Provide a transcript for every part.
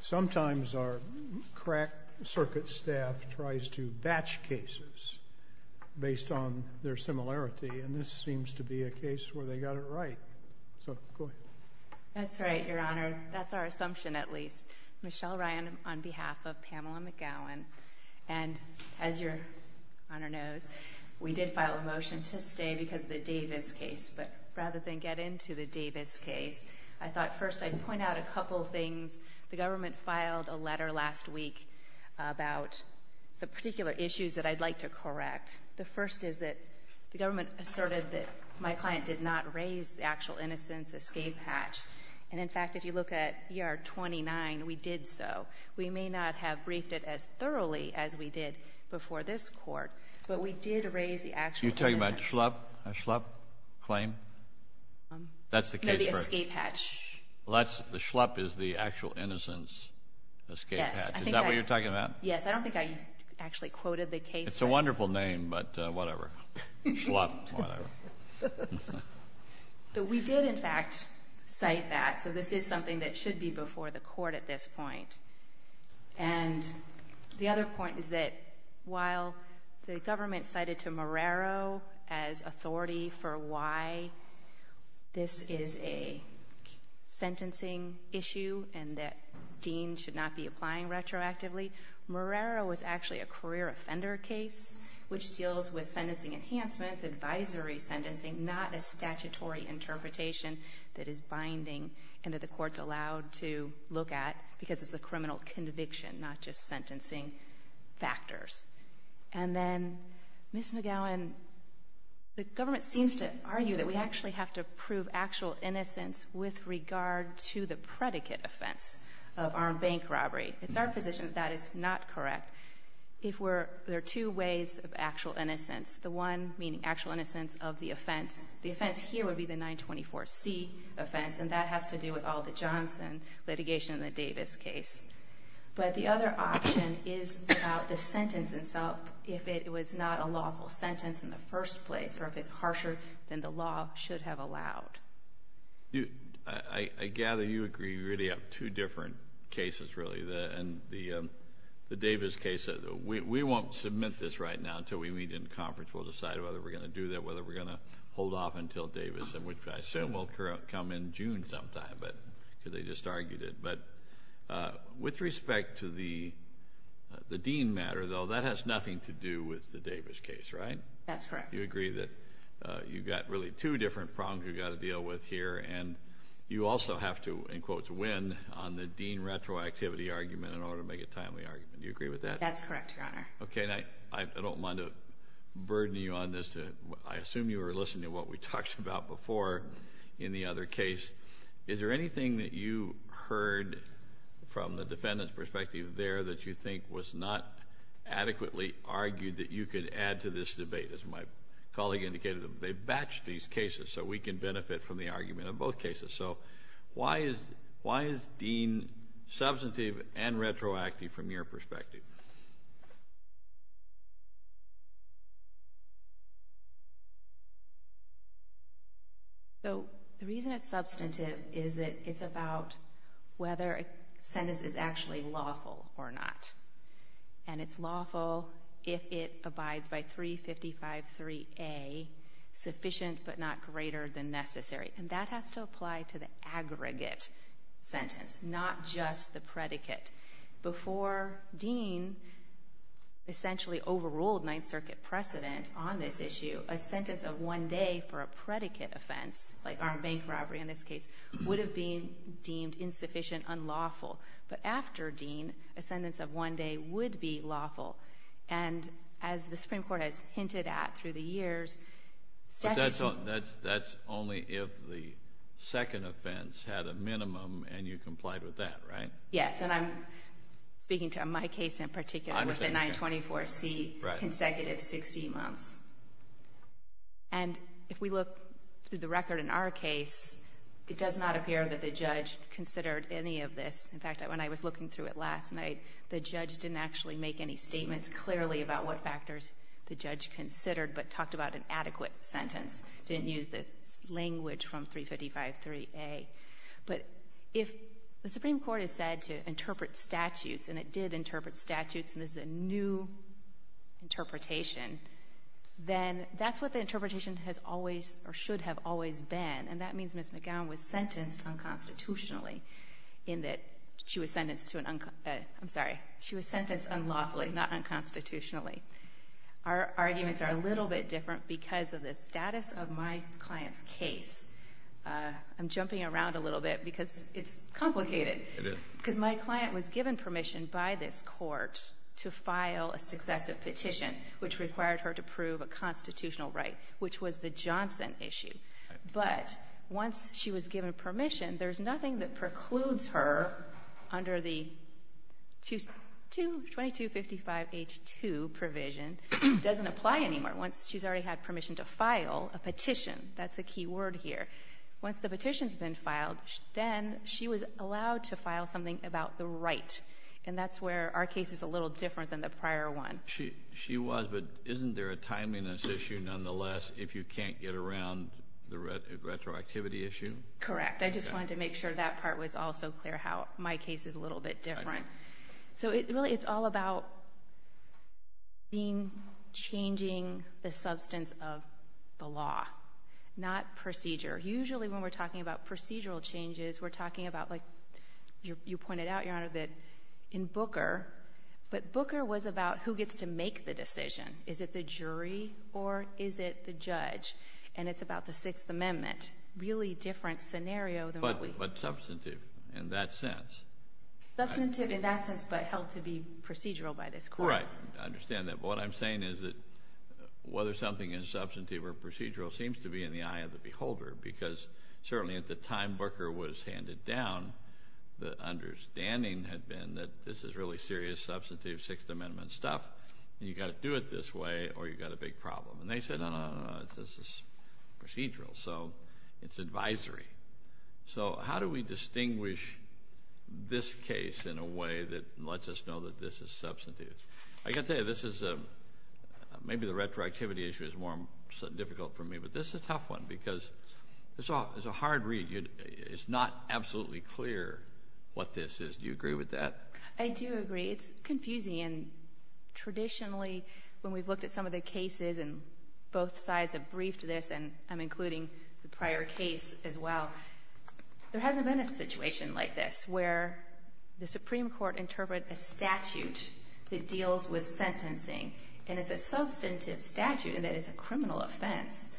Sometimes our crack circuit staff tries to batch cases based on their similarity and this seems to be a case where they got it right. That's right your honor that's our assumption at least. Michelle Ryan on behalf of Pamela McGowan and as your honor knows we did file a motion to stay because the Davis case but rather than get into the Davis case I thought first I'd point out a couple of things. The government filed a letter last week about some particular issues that I'd like to correct. The first is that the government asserted that my client did not raise the actual innocence escape hatch and in fact if you look at ER 29 we did so. We may not have briefed it as thoroughly as we did before this court but we did raise the actual innocence. Kennedy You're talking about Schlepp? A Schlepp claim? That's the case for it. The Schlepp is the actual innocence escape hatch. Is that what you're talking about? Yes, I don't think I actually quoted the case. It's a wonderful name but whatever, Schlepp, whatever. But we did in fact cite that so this is something that should be before the court at this point and the other point is that while the government cited to why this is a sentencing issue and that Dean should not be applying retroactively, Marrero was actually a career offender case which deals with sentencing enhancements, advisory sentencing, not a statutory interpretation that is binding and that the courts allowed to look at because it's a criminal conviction not just sentencing factors. And then Ms. McGowan, the government seems to argue that we actually have to prove actual innocence with regard to the predicate offense of armed bank robbery. It's our position that that is not correct. If we're, there are two ways of actual innocence. The one meaning actual innocence of the offense. The offense here would be the 924C offense and that has to do with all the Johnson litigation and the Davis case. But the other option is about the sentence itself. If it was not a lawful sentence in the first place or if it's harsher than the law should have allowed. I gather you agree really up two different cases really. The Davis case, we won't submit this right now until we meet in conference. We'll decide whether we're going to do that, whether we're going to hold off until Davis, which I assume will come in June sometime because they just argued it. But with respect to the Dean matter, though, that has nothing to do with the Davis case, right? That's correct. You agree that you've got really two different problems you've got to deal with here and you also have to, in quotes, win on the Dean retroactivity argument in order to make a timely argument. Do you agree with that? That's correct, Your Honor. Okay. I don't want to burden you on this. I assume you were listening to what we talked about before in the other case. Is there anything that you heard from the defendant's perspective there that you think was not adequately argued that you could add to this debate? As my colleague indicated, they've batched these cases so we can benefit from the argument in both cases. So why is Dean substantive and retroactive from your perspective? The reason it's substantive is that it's about whether a sentence is actually lawful or not. And it's lawful if it abides by 355.3a, sufficient but not greater than necessary. And that has to apply to the aggregate sentence, not just the predicate. Before Dean essentially overruled Ninth Circuit precedent on this issue, a sentence of one day for a predicate offense, like armed bank robbery in this case, would have been deemed insufficient, unlawful. But after Dean, a sentence of one day would be lawful. And as the Supreme Court has hinted at through the years, statutes... But that's only if the second offense had a minimum and you complied with that, right? Yes. And I'm speaking to my case in particular with the 924C consecutive 16 months. And if we look through the record in our case, it does not appear that the judge considered any of this. In fact, when I was looking through it last night, the judge didn't actually make any statements clearly about what factors the judge considered but talked about an adequate sentence, didn't use the language from 355.3a. But if the Supreme Court has said to interpret statutes, and it did interpret statutes, and this is a new interpretation, then that's what the interpretation has always or should have always been. And that means Ms. McGowan was sentenced unconstitutionally in that she was sentenced to an... I'm sorry. She was sentenced unlawfully, not unconstitutionally. Our arguments are a little bit different because of the status of my client's case. I'm jumping around a little bit because it's complicated. It is. Because my client was given permission by this court to file a successive petition, which required her to prove a constitutional right, which was the Johnson issue. Right. But once she was given permission, there's nothing that precludes her under the 2255H2 provision. It doesn't apply anymore once she's already had permission to file a petition. That's a key word here. Once the petition's been filed, then she was allowed to file something about the right. And that's where our case is a little different than the prior one. She was, but isn't there a timeliness issue, nonetheless, if you can't get around the retroactivity issue? Correct. I just wanted to make sure that part was also clear how my case is a little bit different. So, really, it's all about changing the substance of the law, not procedure. Usually when we're talking about procedural changes, we're talking about, like you pointed out, Your Honor, that in Booker, but Booker was about who gets to make the decision. Is it the jury or is it the judge? And it's about the Sixth Amendment. Really different scenario than what we've seen. But substantive in that sense. Substantive in that sense but held to be procedural by this court. Right. I understand that. But what I'm saying is that whether something is substantive or procedural seems to be in the eye of the beholder because certainly at the time Booker was handed down, the understanding had been that this is really serious, substantive Sixth Amendment stuff and you've got to do it this way or you've got a big problem. And they said, no, no, no, this is procedural. So it's advisory. So how do we distinguish this case in a way that lets us know that this is substantive? I've got to tell you, this is maybe the retroactivity issue is more difficult for me, but this is a tough one because it's a hard read. It's not absolutely clear what this is. Do you agree with that? I do agree. It's confusing. And traditionally when we've looked at some of the cases and both sides have briefed this, and I'm including the prior case as well, there hasn't been a situation like this where the Supreme Court interpret a statute that deals with sentencing, and it's a substantive statute and that it's a criminal offense,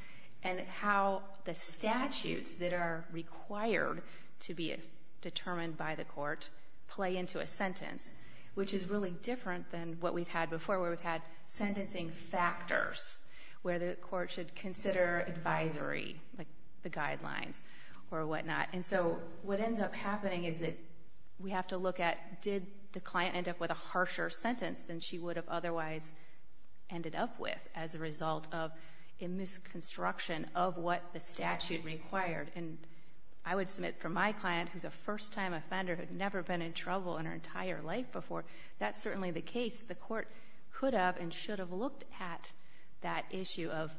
and how the statutes that are required to be determined by the court play into a sentence, which is really different than what we've had before where we've had sentencing factors where the court should consider advisory, like the guidelines or whatnot. And so what ends up happening is that we have to look at did the client end up with a harsher sentence than she would have otherwise ended up with as a result of a misconstruction of what the statute required. And I would submit for my client, who's a first-time offender, who had never been in trouble in her entire life before, that's certainly the case the court could have and should have looked at that issue of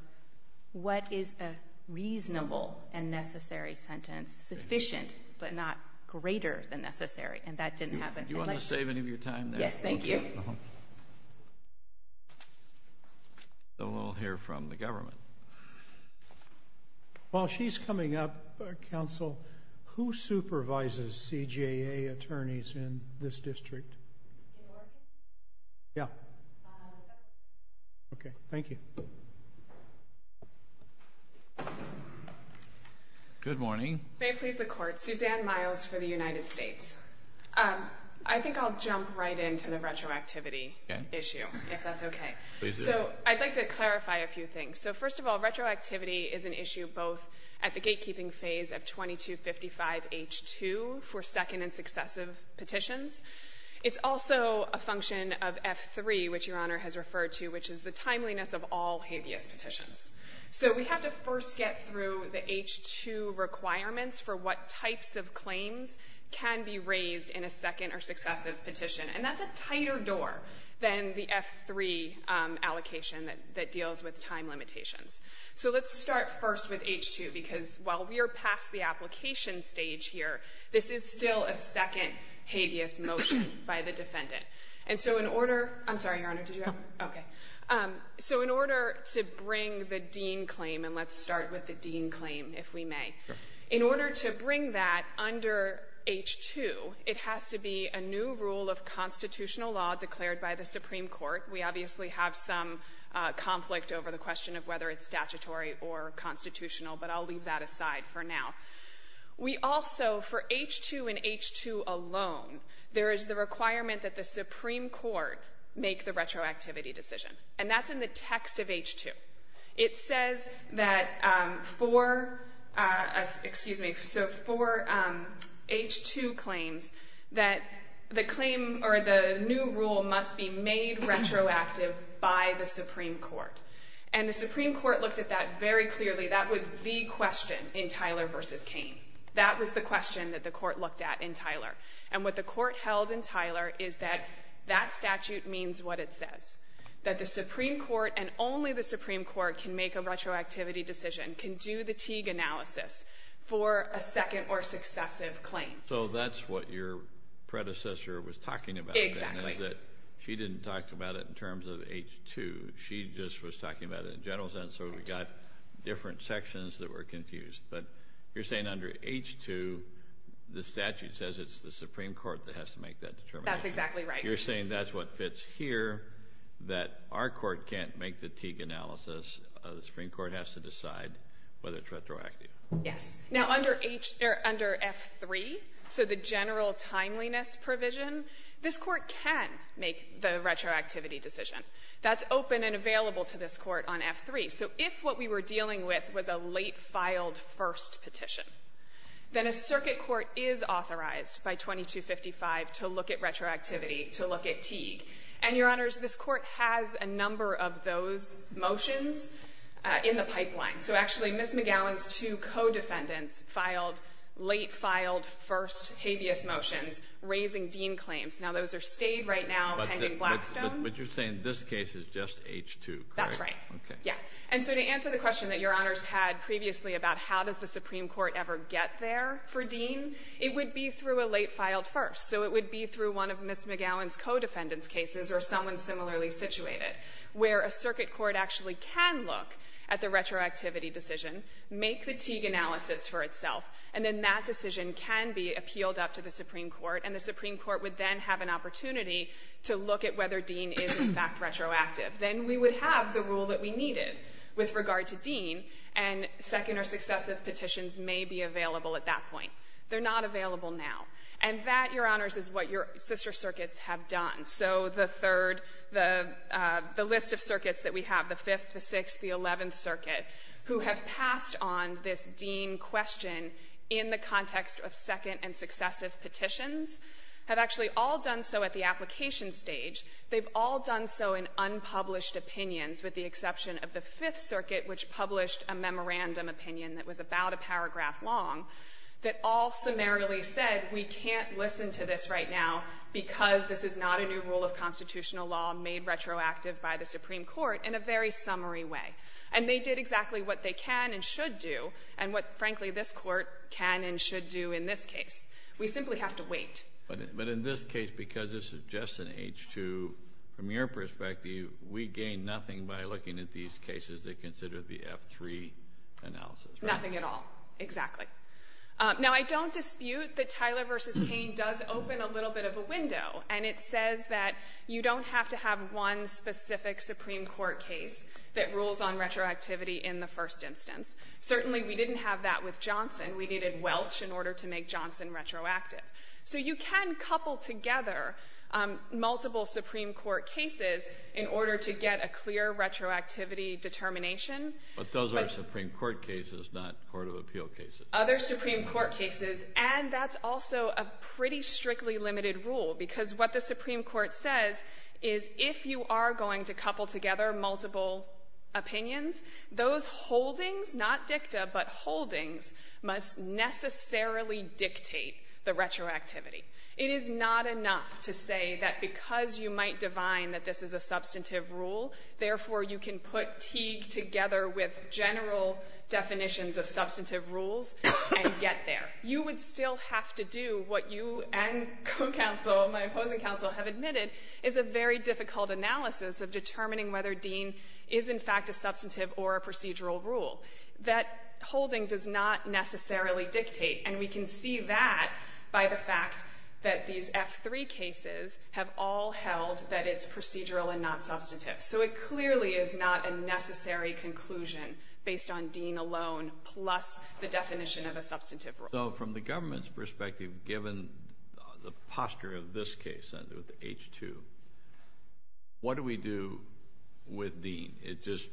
what is a reasonable and necessary sentence, sufficient but not greater than necessary, and that didn't happen. Do you want to save any of your time there? Yes, thank you. We'll hear from the government. While she's coming up, counsel, who supervises CJA attorneys in this district? In Oregon? Yeah. Okay, thank you. Good morning. May it please the Court. Suzanne Miles for the United States. I think I'll jump right into the retroactivity issue, if that's okay. Please do. So I'd like to clarify a few things. So first of all, retroactivity is an issue both at the gatekeeping phase of 2255H2 for second and successive petitions. It's also a function of F3, which Your Honor has referred to, which is the timeliness of all habeas petitions. So we have to first get through the H2 requirements for what types of claims can be raised in a second or successive petition. And that's a tighter door than the F3 allocation that deals with time limitations. So let's start first with H2, because while we are past the application stage here, this is still a second habeas motion by the defendant. And let's start with the dean claim, if we may. In order to bring that under H2, it has to be a new rule of constitutional law declared by the Supreme Court. We obviously have some conflict over the question of whether it's statutory or constitutional, but I'll leave that aside for now. We also, for H2 and H2 alone, there is the requirement that the Supreme Court make the retroactivity decision. And that's in the text of H2. It says that for, excuse me, so for H2 claims that the claim or the new rule must be made retroactive by the Supreme Court. And the Supreme Court looked at that very clearly. That was the question in Tyler v. Kane. That was the question that the Court looked at in Tyler. And what the Court held in Tyler is that that statute means what it says, that the Supreme Court and only the Supreme Court can make a retroactivity decision, can do the Teague analysis for a second or successive claim. So that's what your predecessor was talking about. Exactly. She didn't talk about it in terms of H2. She just was talking about it in general sense, so we got different sections that were confused. But you're saying under H2, the statute says it's the Supreme Court that has to make that determination. That's exactly right. You're saying that's what fits here, that our Court can't make the Teague analysis. The Supreme Court has to decide whether it's retroactive. Yes. Now, under H or under F3, so the general timeliness provision, this Court can make the retroactivity decision. That's open and available to this Court on F3. So if what we were dealing with was a late-filed first petition, then a circuit court is authorized by 2255 to look at retroactivity, to look at Teague. And, Your Honors, this Court has a number of those motions in the pipeline. So actually, Ms. McGowan's two co-defendants filed late-filed first habeas motions raising Dean claims. Now, those are stayed right now pending Blackstone. But you're saying this case is just H2, correct? That's right. Okay. Yeah. And so to answer the question that Your Honors had previously about how does the late-filed first, so it would be through one of Ms. McGowan's co-defendants cases or someone similarly situated, where a circuit court actually can look at the retroactivity decision, make the Teague analysis for itself, and then that decision can be appealed up to the Supreme Court, and the Supreme Court would then have an opportunity to look at whether Dean is, in fact, retroactive. Then we would have the rule that we needed with regard to Dean, and second or successive petitions may be available at that point. They're not available now. And that, Your Honors, is what your sister circuits have done. So the third, the list of circuits that we have, the Fifth, the Sixth, the Eleventh Circuit, who have passed on this Dean question in the context of second and successive petitions, have actually all done so at the application stage. They've all done so in unpublished opinions, with the exception of the Fifth Circuit, which published a memorandum opinion that was about a paragraph long, that all summarily said we can't listen to this right now because this is not a new rule of constitutional law made retroactive by the Supreme Court in a very summary way. And they did exactly what they can and should do, and what, frankly, this Court can and should do in this case. We simply have to wait. Kennedy. But in this case, because this is just an H-2, from your perspective, we gain nothing by looking at these cases that consider the F-3 analysis, right? Nothing at all. Exactly. Now, I don't dispute that Tyler v. Payne does open a little bit of a window, and it says that you don't have to have one specific Supreme Court case that rules on retroactivity in the first instance. Certainly, we didn't have that with Johnson. We needed Welch in order to make Johnson retroactive. So you can couple together multiple Supreme Court cases in order to get a clear retroactivity determination. But those are Supreme Court cases, not court of appeal cases. Other Supreme Court cases. And that's also a pretty strictly limited rule, because what the Supreme Court says is if you are going to couple together multiple opinions, those holdings not dicta, but holdings must necessarily dictate the retroactivity. It is not enough to say that because you might divine that this is a substantive rule, therefore, you can put Teague together with general definitions of substantive rules and get there. You would still have to do what you and co-counsel, my opposing counsel, have admitted is a very difficult analysis of determining whether Dean is, in fact, a substantive or a procedural rule. That holding does not necessarily dictate, and we can see that by the fact that these F-3 cases have all held that it's procedural and not substantive. So it clearly is not a necessary conclusion based on Dean alone plus the definition of a substantive rule. Kennedy. So from the government's perspective, given the posture of this case under H-2, what do we do with Dean? It just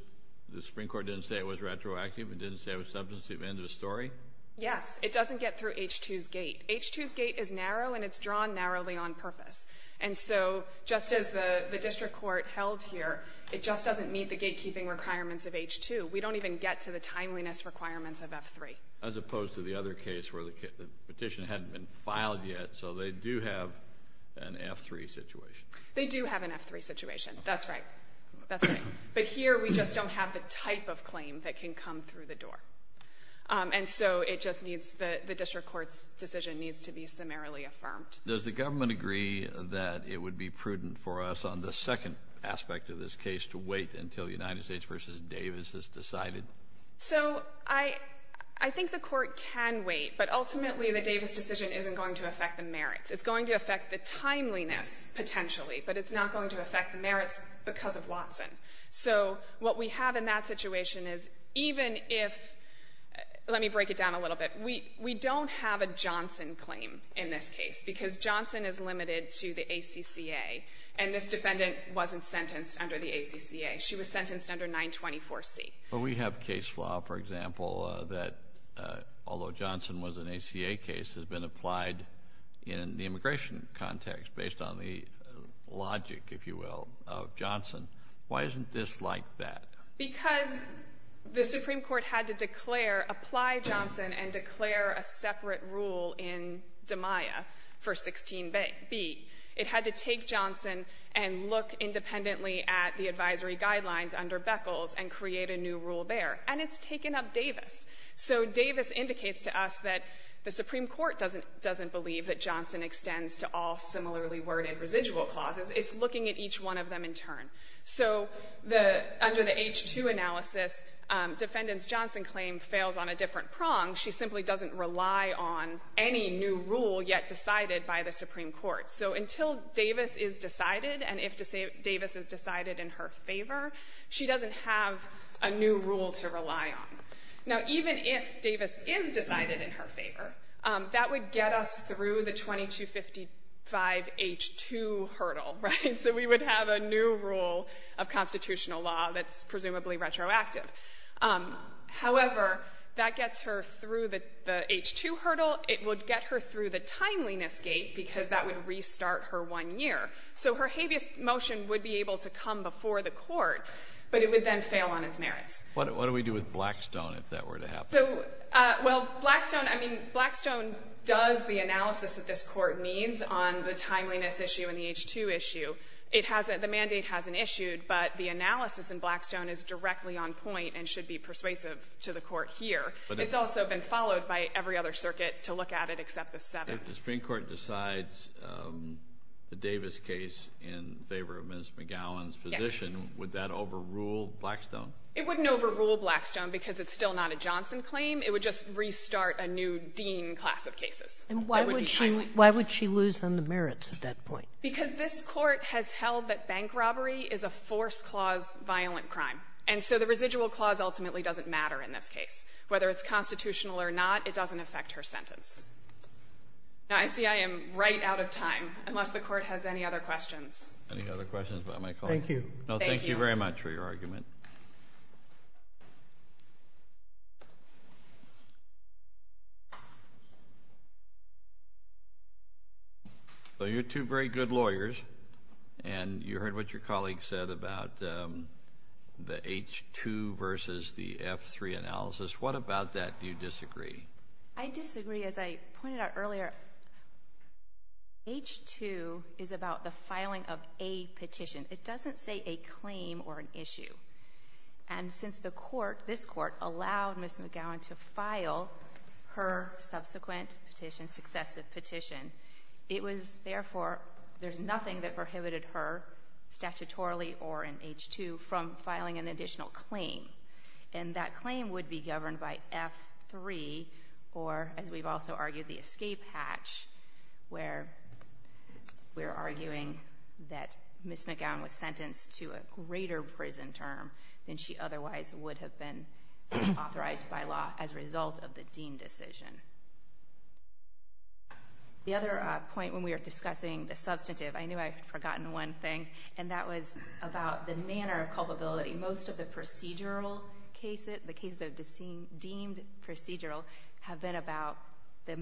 the Supreme Court didn't say it was retroactive. It didn't say it was substantive. End of story. Yes. It doesn't get through H-2's gate. H-2's gate is narrow, and it's drawn narrowly on purpose. And so just as the district court held here, it just doesn't meet the gatekeeping requirements of H-2. We don't even get to the timeliness requirements of F-3. As opposed to the other case where the petition hadn't been filed yet, so they do have an F-3 situation. They do have an F-3 situation. That's right. That's right. But here we just don't have the type of claim that can come through the door. And so it just needs the district court's decision needs to be summarily affirmed. Does the government agree that it would be prudent for us on the second aspect of this case to wait until United States v. Davis is decided? So I think the Court can wait, but ultimately the Davis decision isn't going to affect the merits. It's going to affect the timeliness, potentially, but it's not going to affect the merits because of Watson. So what we have in that situation is even if — let me break it down a little bit. We don't have a Johnson claim in this case because Johnson is limited to the ACCA, and this defendant wasn't sentenced under the ACCA. She was sentenced under 924C. Well, we have case law, for example, that although Johnson was an ACA case, has been Why isn't this like that? Because the Supreme Court had to declare, apply Johnson and declare a separate rule in DiMaia for 16b. It had to take Johnson and look independently at the advisory guidelines under Beckles and create a new rule there. And it's taken up Davis. So Davis indicates to us that the Supreme Court doesn't believe that Johnson extends to all similarly worded residual clauses. It's looking at each one of them in turn. So under the H-2 analysis, defendant's Johnson claim fails on a different prong. She simply doesn't rely on any new rule yet decided by the Supreme Court. So until Davis is decided and if Davis is decided in her favor, she doesn't have a new rule to rely on. Now, even if Davis is decided in her favor, that would get us through the 2255H-2 hurdle. Right? So we would have a new rule of constitutional law that's presumably retroactive. However, that gets her through the H-2 hurdle. It would get her through the timeliness gate because that would restart her one year. So her habeas motion would be able to come before the Court, but it would then fail on its merits. What do we do with Blackstone if that were to happen? So, well, Blackstone, I mean, Blackstone does the analysis that this Court needs on the timeliness issue and the H-2 issue. It hasn't the mandate hasn't issued, but the analysis in Blackstone is directly on point and should be persuasive to the Court here. But it's also been followed by every other circuit to look at it except the seventh. If the Supreme Court decides the Davis case in favor of Ms. McGowan's position, would that overrule Blackstone? It wouldn't overrule Blackstone because it's still not a Johnson claim. It would just restart a new Dean class of cases. And why would she lose on the merits at that point? Because this Court has held that bank robbery is a force clause violent crime. And so the residual clause ultimately doesn't matter in this case. Whether it's constitutional or not, it doesn't affect her sentence. Now, I see I am right out of time, unless the Court has any other questions. Any other questions about my colleague? No, thank you very much for your argument. Well, you're two very good lawyers. And you heard what your colleague said about the H-2 versus the F-3 analysis. What about that do you disagree? I disagree. As I pointed out earlier, H-2 is about the filing of a petition. It doesn't say a claim or an issue. And since the Court, this Court, allowed Ms. McGowan to file her subsequent petition, successive petition, it was, therefore, there's nothing that prohibited her statutorily or in H-2 from filing an additional claim. And that claim would be governed by F-3 or, as we've also argued, the escape hatch, where we're arguing that Ms. McGowan was sentenced to a greater prison term than she otherwise would have been authorized by law as a result of the deemed decision. The other point when we were discussing the substantive, I knew I had forgotten one thing, and that was about the manner of culpability. Most of the procedural cases, the cases that are deemed procedural, have been about the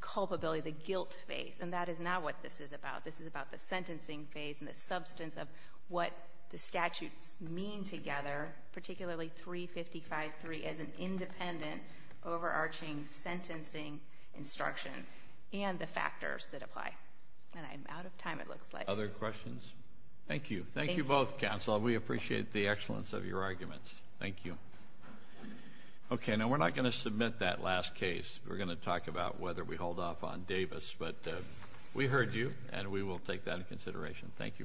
culpability, the guilt phase. And that is not what this is about. This is about the sentencing phase and the substance of what the statutes mean together, particularly 355-3, as an independent, overarching sentencing instruction, and the factors that apply. And I'm out of time, it looks like. Other questions? Thank you. Thank you both, counsel. We appreciate the excellence of your arguments. Thank you. Okay. Now, we're not going to submit that last case. We're going to talk about whether we hold off on Davis. But we heard you, and we will take that into consideration. Thank you very much.